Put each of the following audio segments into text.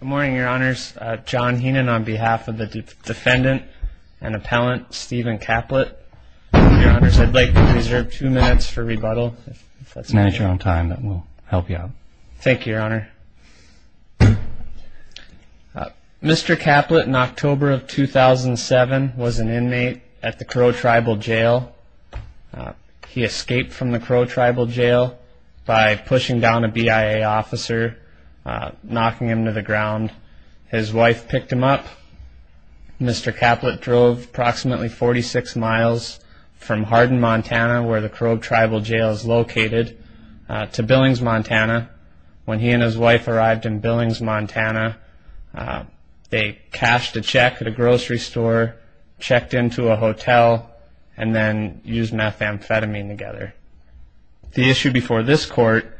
Good morning, your honors. John Heenan on behalf of the defendant and appellant Stephen Caplett. Your honors, I'd like to reserve two minutes for rebuttal. If that's okay. Manage your own time, that will help you out. Thank you, your honor. Mr. Caplett in October of 2007 was an inmate at the Crow Tribal Jail. He escaped from the Crow Tribal Jail by pushing down a BIA officer, knocking him to the ground. His wife picked him up. Mr. Caplett drove approximately 46 miles from Hardin, Montana, where the Crow Tribal Jail is located, to Billings, Montana. When he and his wife arrived in Billings, Montana, they cashed a check at a grocery store, checked into a hotel, and then used methamphetamine together. The issue before this court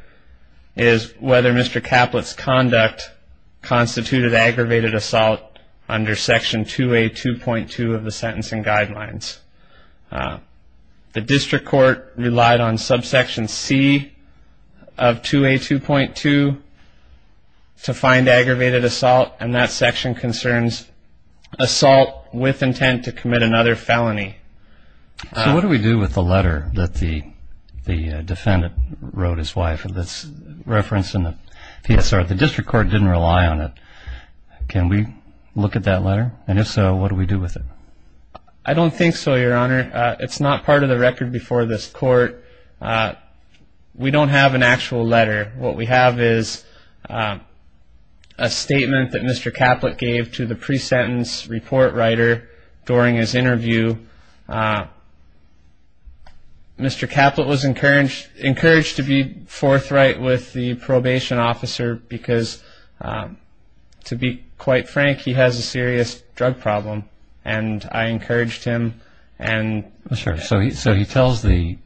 is whether Mr. Caplett's conduct constituted aggravated assault under Section 2A.2.2 of the Sentencing Guidelines. The District Court relied on Subsection C of 2A.2.2 to find aggravated assault, and that section concerns assault with intent to commit another felony. So what do we do with the letter that the defendant wrote his wife that's referenced in the PSR? The District Court didn't rely on it. Can we look at that letter? And if so, what do we do with it? I don't think so, Your Honor. It's not part of the record before this court. We don't have an actual letter. What we have is a statement that Mr. Caplett gave to the pre-sentence report writer during his interview. Mr. Caplett was encouraged to be forthright with the probation officer because, to be quite frank, he has a serious drug problem, and I encouraged him. So he tells the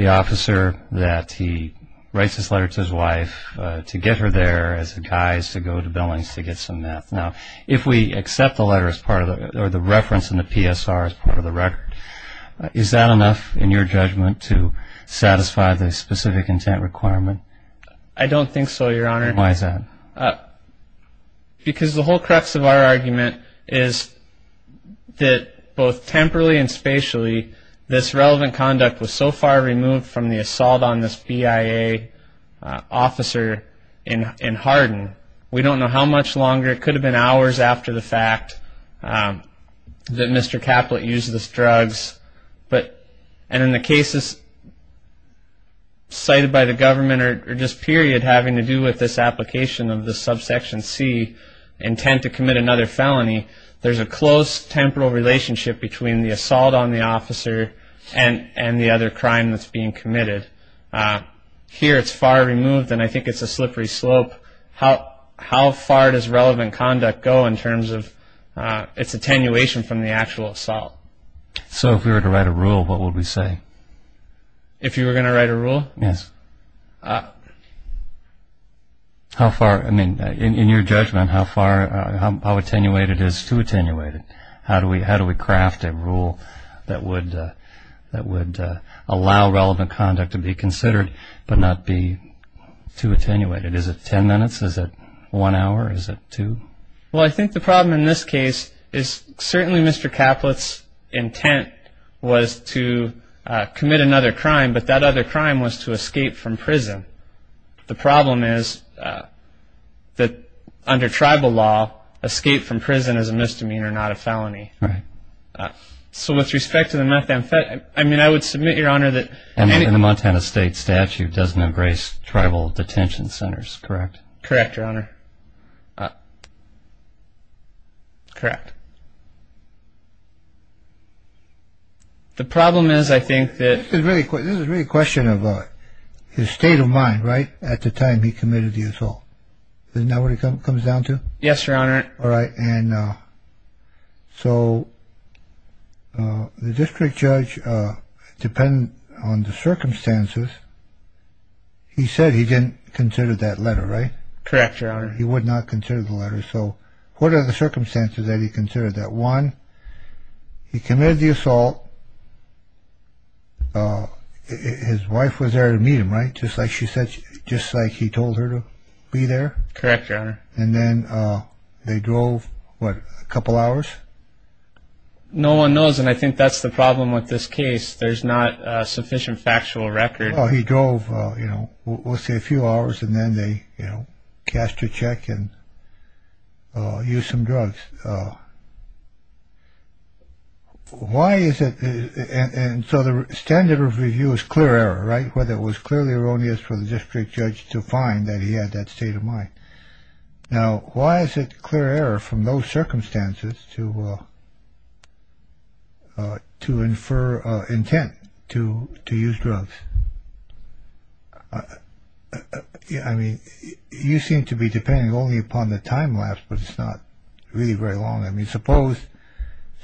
officer that he writes this letter to his wife to get her there as a guise to go to Billings to get some meth. Now, if we accept the letter or the reference in the PSR as part of the record, is that enough, in your judgment, to satisfy the specific intent requirement? I don't think so, Your Honor. Why is that? Because the whole crux of our argument is that, both temporally and spatially, this relevant conduct was so far removed from the assault on this BIA officer in Hardin, we don't know how much longer. It could have been hours after the fact that Mr. Caplett used these drugs. And in the cases cited by the government or just period having to do with this application of the subsection C, intent to commit another felony, there's a close temporal relationship between the assault on the officer and the other crime that's being committed. Here, it's far removed, and I think it's a slippery slope. How far does relevant conduct go in terms of its attenuation from the actual assault? So if we were to write a rule, what would we say? If you were going to write a rule? Yes. In your judgment, how attenuated is too attenuated? How do we craft a rule that would allow relevant conduct to be considered but not be too attenuated? Is it 10 minutes? Is it one hour? Is it two? Well, I think the problem in this case is certainly Mr. Caplett's intent was to commit another crime, but that other crime was to escape from prison. The problem is that under tribal law, escape from prison is a misdemeanor, not a felony. Right. So with respect to the methamphetamine, I mean, I would submit, Your Honor, that- And the Montana State statute does not grace tribal detention centers, correct? Correct, Your Honor. Correct. The problem is I think that- This is really a question of his state of mind, right, at the time he committed the assault. Isn't that what it comes down to? Yes, Your Honor. All right. And so the district judge, depending on the circumstances, he said he didn't consider that letter, right? Correct, Your Honor. He would not consider the letter. So what are the circumstances that he considered that? One, he committed the assault. His wife was there to meet him, right, just like she said, just like he told her to be there? Correct, Your Honor. And then they drove, what, a couple hours? No one knows, and I think that's the problem with this case. There's not a sufficient factual record. Well, he drove, you know, we'll say a few hours, and then they, you know, cast a check and used some drugs. Why is it- and so the standard of review is clear error, right, whether it was clearly erroneous for the district judge to find that he had that state of mind. Now, why is it clear error from those circumstances to infer intent to use drugs? I mean, you seem to be depending only upon the time lapse, but it's not really very long. I mean, suppose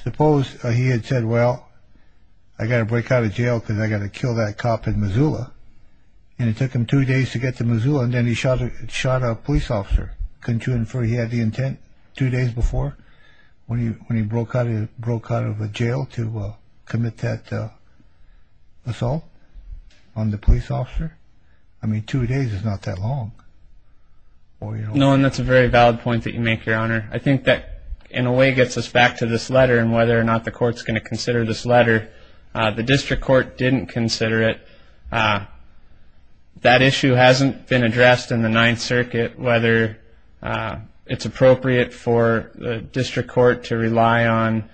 he had said, well, I got to break out of jail because I got to kill that cop in Missoula, and it took him two days to get to Missoula, and then he shot a police officer. Couldn't you infer he had the intent two days before when he broke out of jail to commit that assault on the police officer? I mean, two days is not that long. No, and that's a very valid point that you make, Your Honor. I think that in a way gets us back to this letter and whether or not the court's going to consider this letter. The district court didn't consider it. That issue hasn't been addressed in the Ninth Circuit, whether it's appropriate for the district court to rely on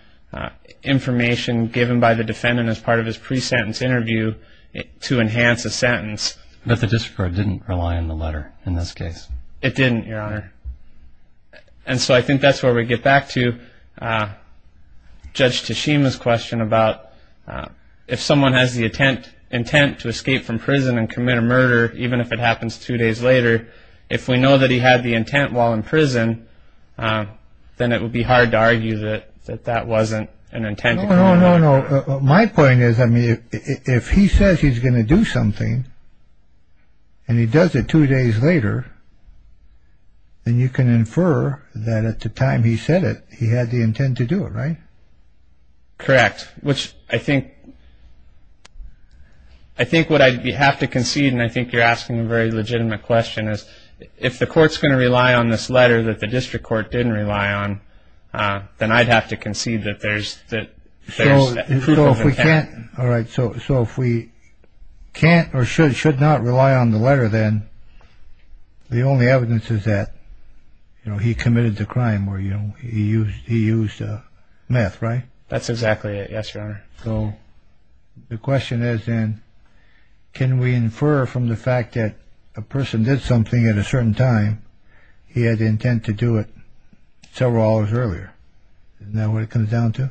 information given by the defendant as part of his pre-sentence interview to enhance a sentence. But the district court didn't rely on the letter in this case. It didn't, Your Honor. And so I think that's where we get back to Judge Tashima's question about if someone has the intent to escape from prison and commit a murder, even if it happens two days later, if we know that he had the intent while in prison, then it would be hard to argue that that wasn't an intent. No, no, no, no. My point is, I mean, if he says he's going to do something and he does it two days later, then you can infer that at the time he said it, he had the intent to do it, right? Correct, which I think what you have to concede, and I think you're asking a very legitimate question, is if the court's going to rely on this letter that the district court didn't rely on, then I'd have to concede that there's proof of intent. All right, so if we can't or should not rely on the letter, then the only evidence is that he committed the crime or he used meth, right? That's exactly it, yes, Your Honor. So the question is then, can we infer from the fact that a person did something at a certain time, and he had the intent to do it several hours earlier? Isn't that what it comes down to?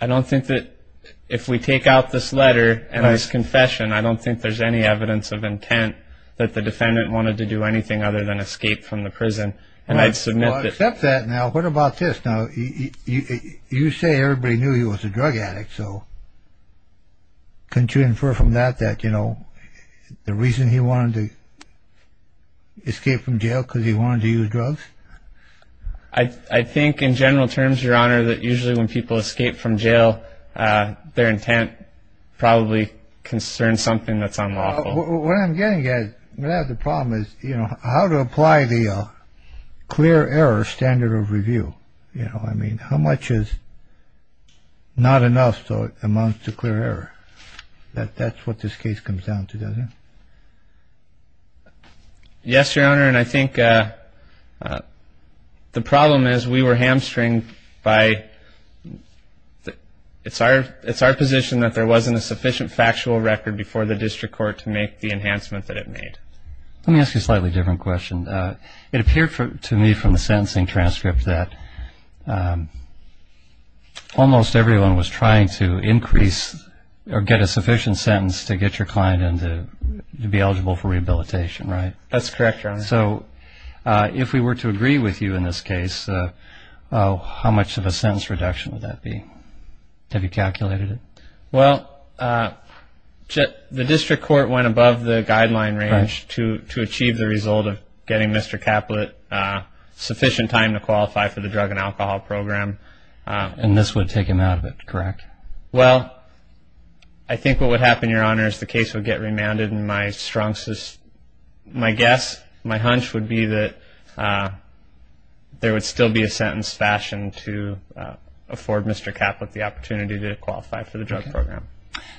I don't think that if we take out this letter and this confession, I don't think there's any evidence of intent that the defendant wanted to do anything other than escape from the prison, and I'd submit that. Well, I accept that. Now, what about this? Now, you say everybody knew he was a drug addict, couldn't you infer from that that the reason he wanted to escape from jail was because he wanted to use drugs? I think in general terms, Your Honor, that usually when people escape from jail, their intent probably concerns something that's unlawful. What I'm getting at, the problem is how to apply the clear error standard of review. You know, I mean, how much is not enough so it amounts to clear error? That's what this case comes down to, doesn't it? Yes, Your Honor, and I think the problem is we were hamstrung by, it's our position that there wasn't a sufficient factual record before the district court to make the enhancement that it made. Let me ask you a slightly different question. It appeared to me from the sentencing transcript that almost everyone was trying to increase or get a sufficient sentence to get your client to be eligible for rehabilitation, right? That's correct, Your Honor. So if we were to agree with you in this case, how much of a sentence reduction would that be? Have you calculated it? Well, the district court went above the guideline range to achieve the result of getting Mr. Caplet sufficient time to qualify for the drug and alcohol program. And this would take him out of it, correct? Well, I think what would happen, Your Honor, is the case would get remanded, and my guess, my hunch would be that there would still be a sentence fashion to afford Mr. Caplet the opportunity to qualify for the drug program.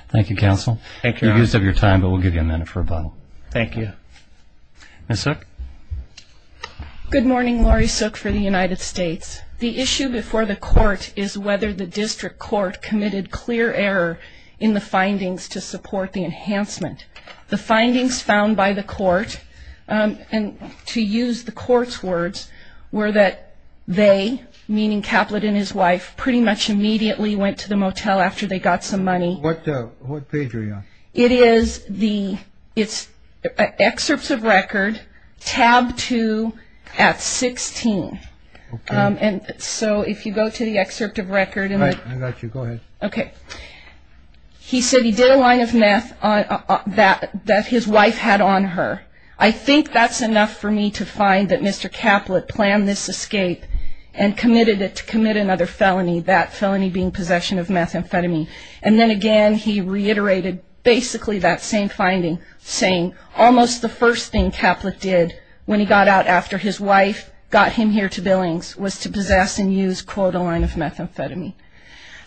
Thank you, counsel. Thank you, Your Honor. You used up your time, but we'll give you a minute for a button. Thank you. Ms. Suk. Good morning, Laurie Suk for the United States. The issue before the court is whether the district court committed clear error in the findings to support the enhancement. The findings found by the court, and to use the court's words, were that they, meaning Caplet and his wife, pretty much immediately went to the motel after they got some money. What page are you on? It is the excerpts of record, tab 2 at 16. Okay. So if you go to the excerpt of record. All right, I got you. Go ahead. Okay. He said he did a line of meth that his wife had on her. I think that's enough for me to find that Mr. Caplet planned this escape and committed it to commit another felony, that felony being possession of methamphetamine. And then again, he reiterated basically that same finding, saying almost the first thing Caplet did when he got out after his wife got him here to Billings was to possess and use, quote, a line of methamphetamine.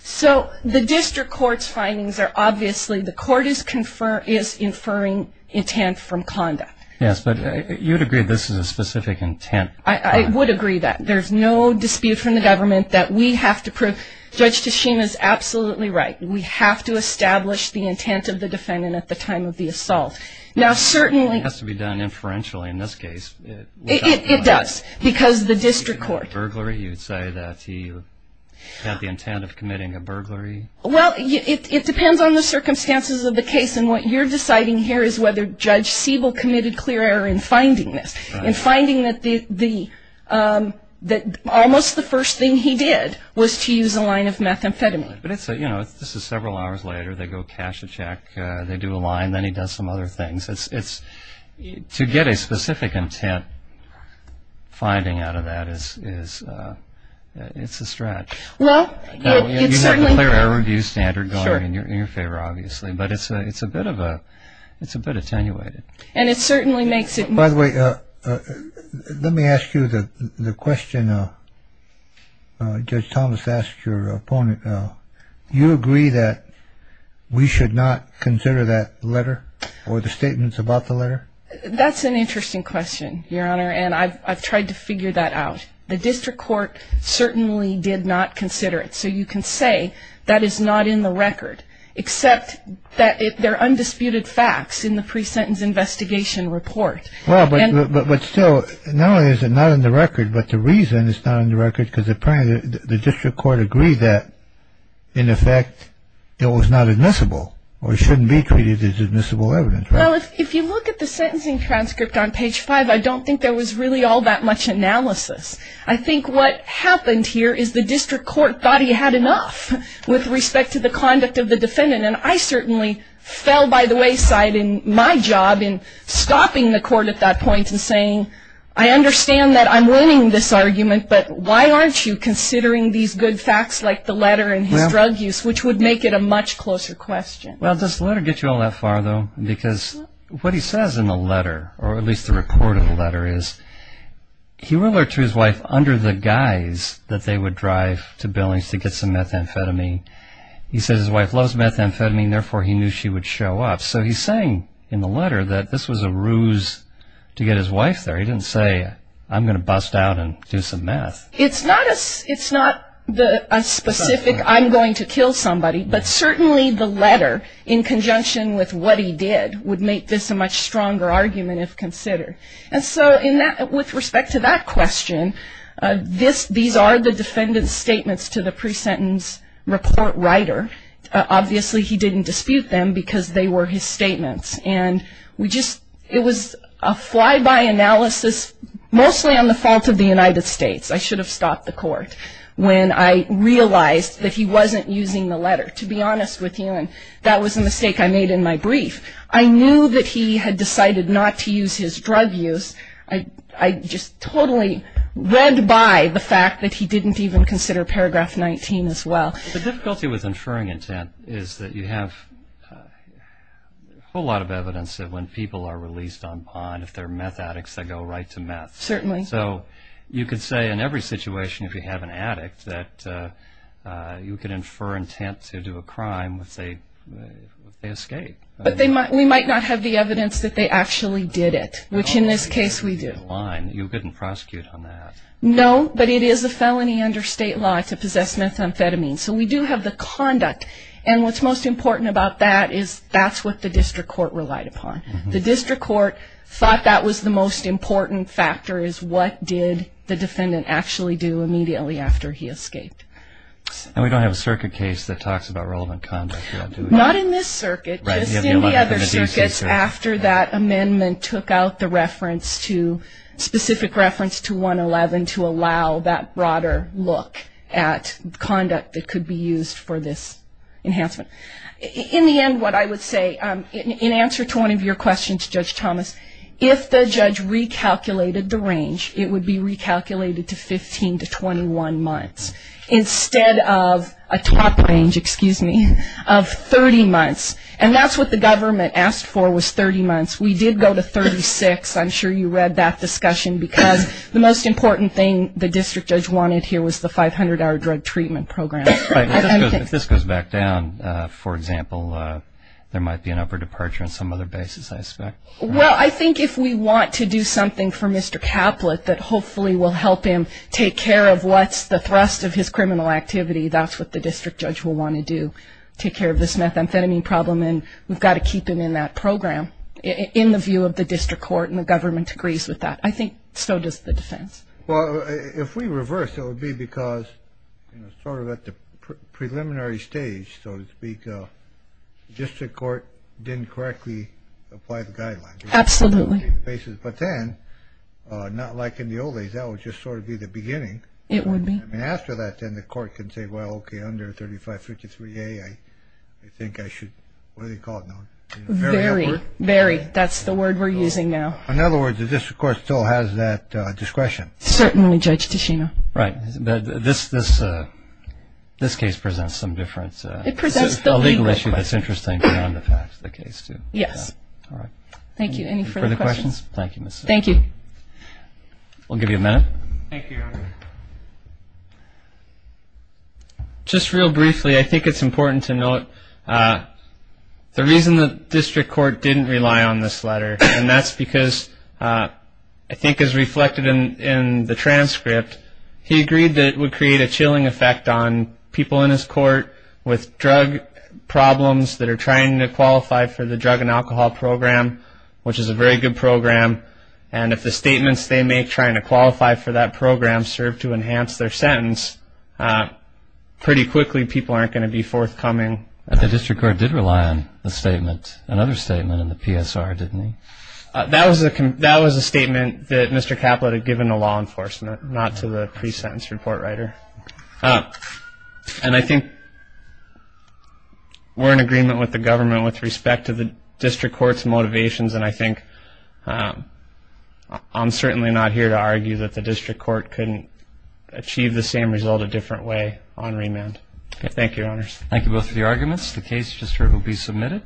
So the district court's findings are obviously the court is inferring intent from conduct. Yes, but you'd agree this is a specific intent. I would agree that. There's no dispute from the government that we have to prove Judge Teshim is absolutely right. We have to establish the intent of the defendant at the time of the assault. Now, certainly. It has to be done inferentially in this case. It does, because the district court. You'd say that he had the intent of committing a burglary. Well, it depends on the circumstances of the case, and what you're deciding here is whether Judge Siebel committed clear error in finding this, in finding that almost the first thing he did was to use a line of methamphetamine. But, you know, this is several hours later. They go cash a check. They do a line. Then he does some other things. To get a specific intent finding out of that is a stretch. Well, it certainly. You have a clear error review standard going in your favor, obviously, but it's a bit attenuated. And it certainly makes it more. By the way, let me ask you the question Judge Thomas asked your opponent. You agree that we should not consider that letter or the statements about the letter? That's an interesting question, Your Honor, and I've tried to figure that out. The district court certainly did not consider it. So you can say that is not in the record, except that they're undisputed facts in the pre-sentence investigation report. Well, but still, not only is it not in the record, but the reason it's not in the record, because apparently the district court agreed that, in effect, it was not admissible or shouldn't be treated as admissible evidence. Well, if you look at the sentencing transcript on page five, I don't think there was really all that much analysis. I think what happened here is the district court thought he had enough with respect to the conduct of the defendant. And I certainly fell by the wayside in my job in stopping the court at that point and saying, I understand that I'm winning this argument, but why aren't you considering these good facts like the letter and his drug use, which would make it a much closer question. Well, does the letter get you all that far, though? Because what he says in the letter, or at least the report of the letter is, he wrote to his wife under the guise that they would drive to Billings to get some methamphetamine. He says his wife loves methamphetamine, therefore he knew she would show up. So he's saying in the letter that this was a ruse to get his wife there. He didn't say, I'm going to bust out and do some meth. It's not a specific, I'm going to kill somebody, but certainly the letter in conjunction with what he did would make this a much stronger argument if considered. And so with respect to that question, these are the defendant's statements to the pre-sentence report writer. Obviously he didn't dispute them because they were his statements. And we just, it was a fly-by analysis mostly on the fault of the United States. I should have stopped the court when I realized that he wasn't using the letter, to be honest with you, and that was a mistake I made in my brief. I knew that he had decided not to use his drug use. I just totally read by the fact that he didn't even consider paragraph 19 as well. The difficulty with inferring intent is that you have a whole lot of evidence that when people are released on bond, if they're meth addicts, they go right to meth. Certainly. So you could say in every situation if you have an addict that you could infer intent to do a crime if they escape. But we might not have the evidence that they actually did it, which in this case we do. You couldn't prosecute on that. No, but it is a felony under state law to possess methamphetamine. So we do have the conduct. And what's most important about that is that's what the district court relied upon. The district court thought that was the most important factor, is what did the defendant actually do immediately after he escaped. And we don't have a circuit case that talks about relevant conduct. Not in this circuit, just in the other circuits after that amendment took out the reference to, allow that broader look at conduct that could be used for this enhancement. In the end, what I would say, in answer to one of your questions, Judge Thomas, if the judge recalculated the range, it would be recalculated to 15 to 21 months instead of a top range, excuse me, of 30 months. And that's what the government asked for was 30 months. We did go to 36. I'm sure you read that discussion because the most important thing the district judge wanted here was the 500-hour drug treatment program. If this goes back down, for example, there might be an upper departure on some other basis, I expect. Well, I think if we want to do something for Mr. Kaplett that hopefully will help him take care of what's the thrust of his criminal activity, that's what the district judge will want to do, take care of this methamphetamine problem. And we've got to keep him in that program in the view of the district court, and the government agrees with that. I think so does the defense. Well, if we reverse, it would be because sort of at the preliminary stage, so to speak, the district court didn't correctly apply the guidelines. Absolutely. But then, not like in the old days, that would just sort of be the beginning. It would be. I mean, after that, then the court can say, well, okay, under 3553A, I think I should, what do they call it now? Very upward. Very. That's the word we're using now. In other words, the district court still has that discretion. Certainly, Judge Tichina. This case presents some difference. It presents the legal issue. It's a legal issue, but it's interesting beyond the facts, the case, too. All right. Thank you. Any further questions? Thank you. We'll give you a minute. Thank you, Your Honor. Just real briefly, I think it's important to note the reason the district court didn't rely on this letter, and that's because I think as reflected in the transcript, he agreed that it would create a chilling effect on people in his court with drug problems that are trying to qualify for the drug and alcohol program, which is a very good program, and if the statements they make trying to qualify for that program serve to enhance their sentence, pretty quickly people aren't going to be forthcoming. The district court did rely on the statement, another statement in the PSR, didn't he? That was a statement that Mr. Caplet had given to law enforcement, not to the pre-sentence report writer. And I think we're in agreement with the government with respect to the district court's motivations, and I think I'm certainly not here to argue that the district court couldn't achieve the same result a different way on remand. Thank you, Your Honors. Thank you both for your arguments. The case just will be submitted.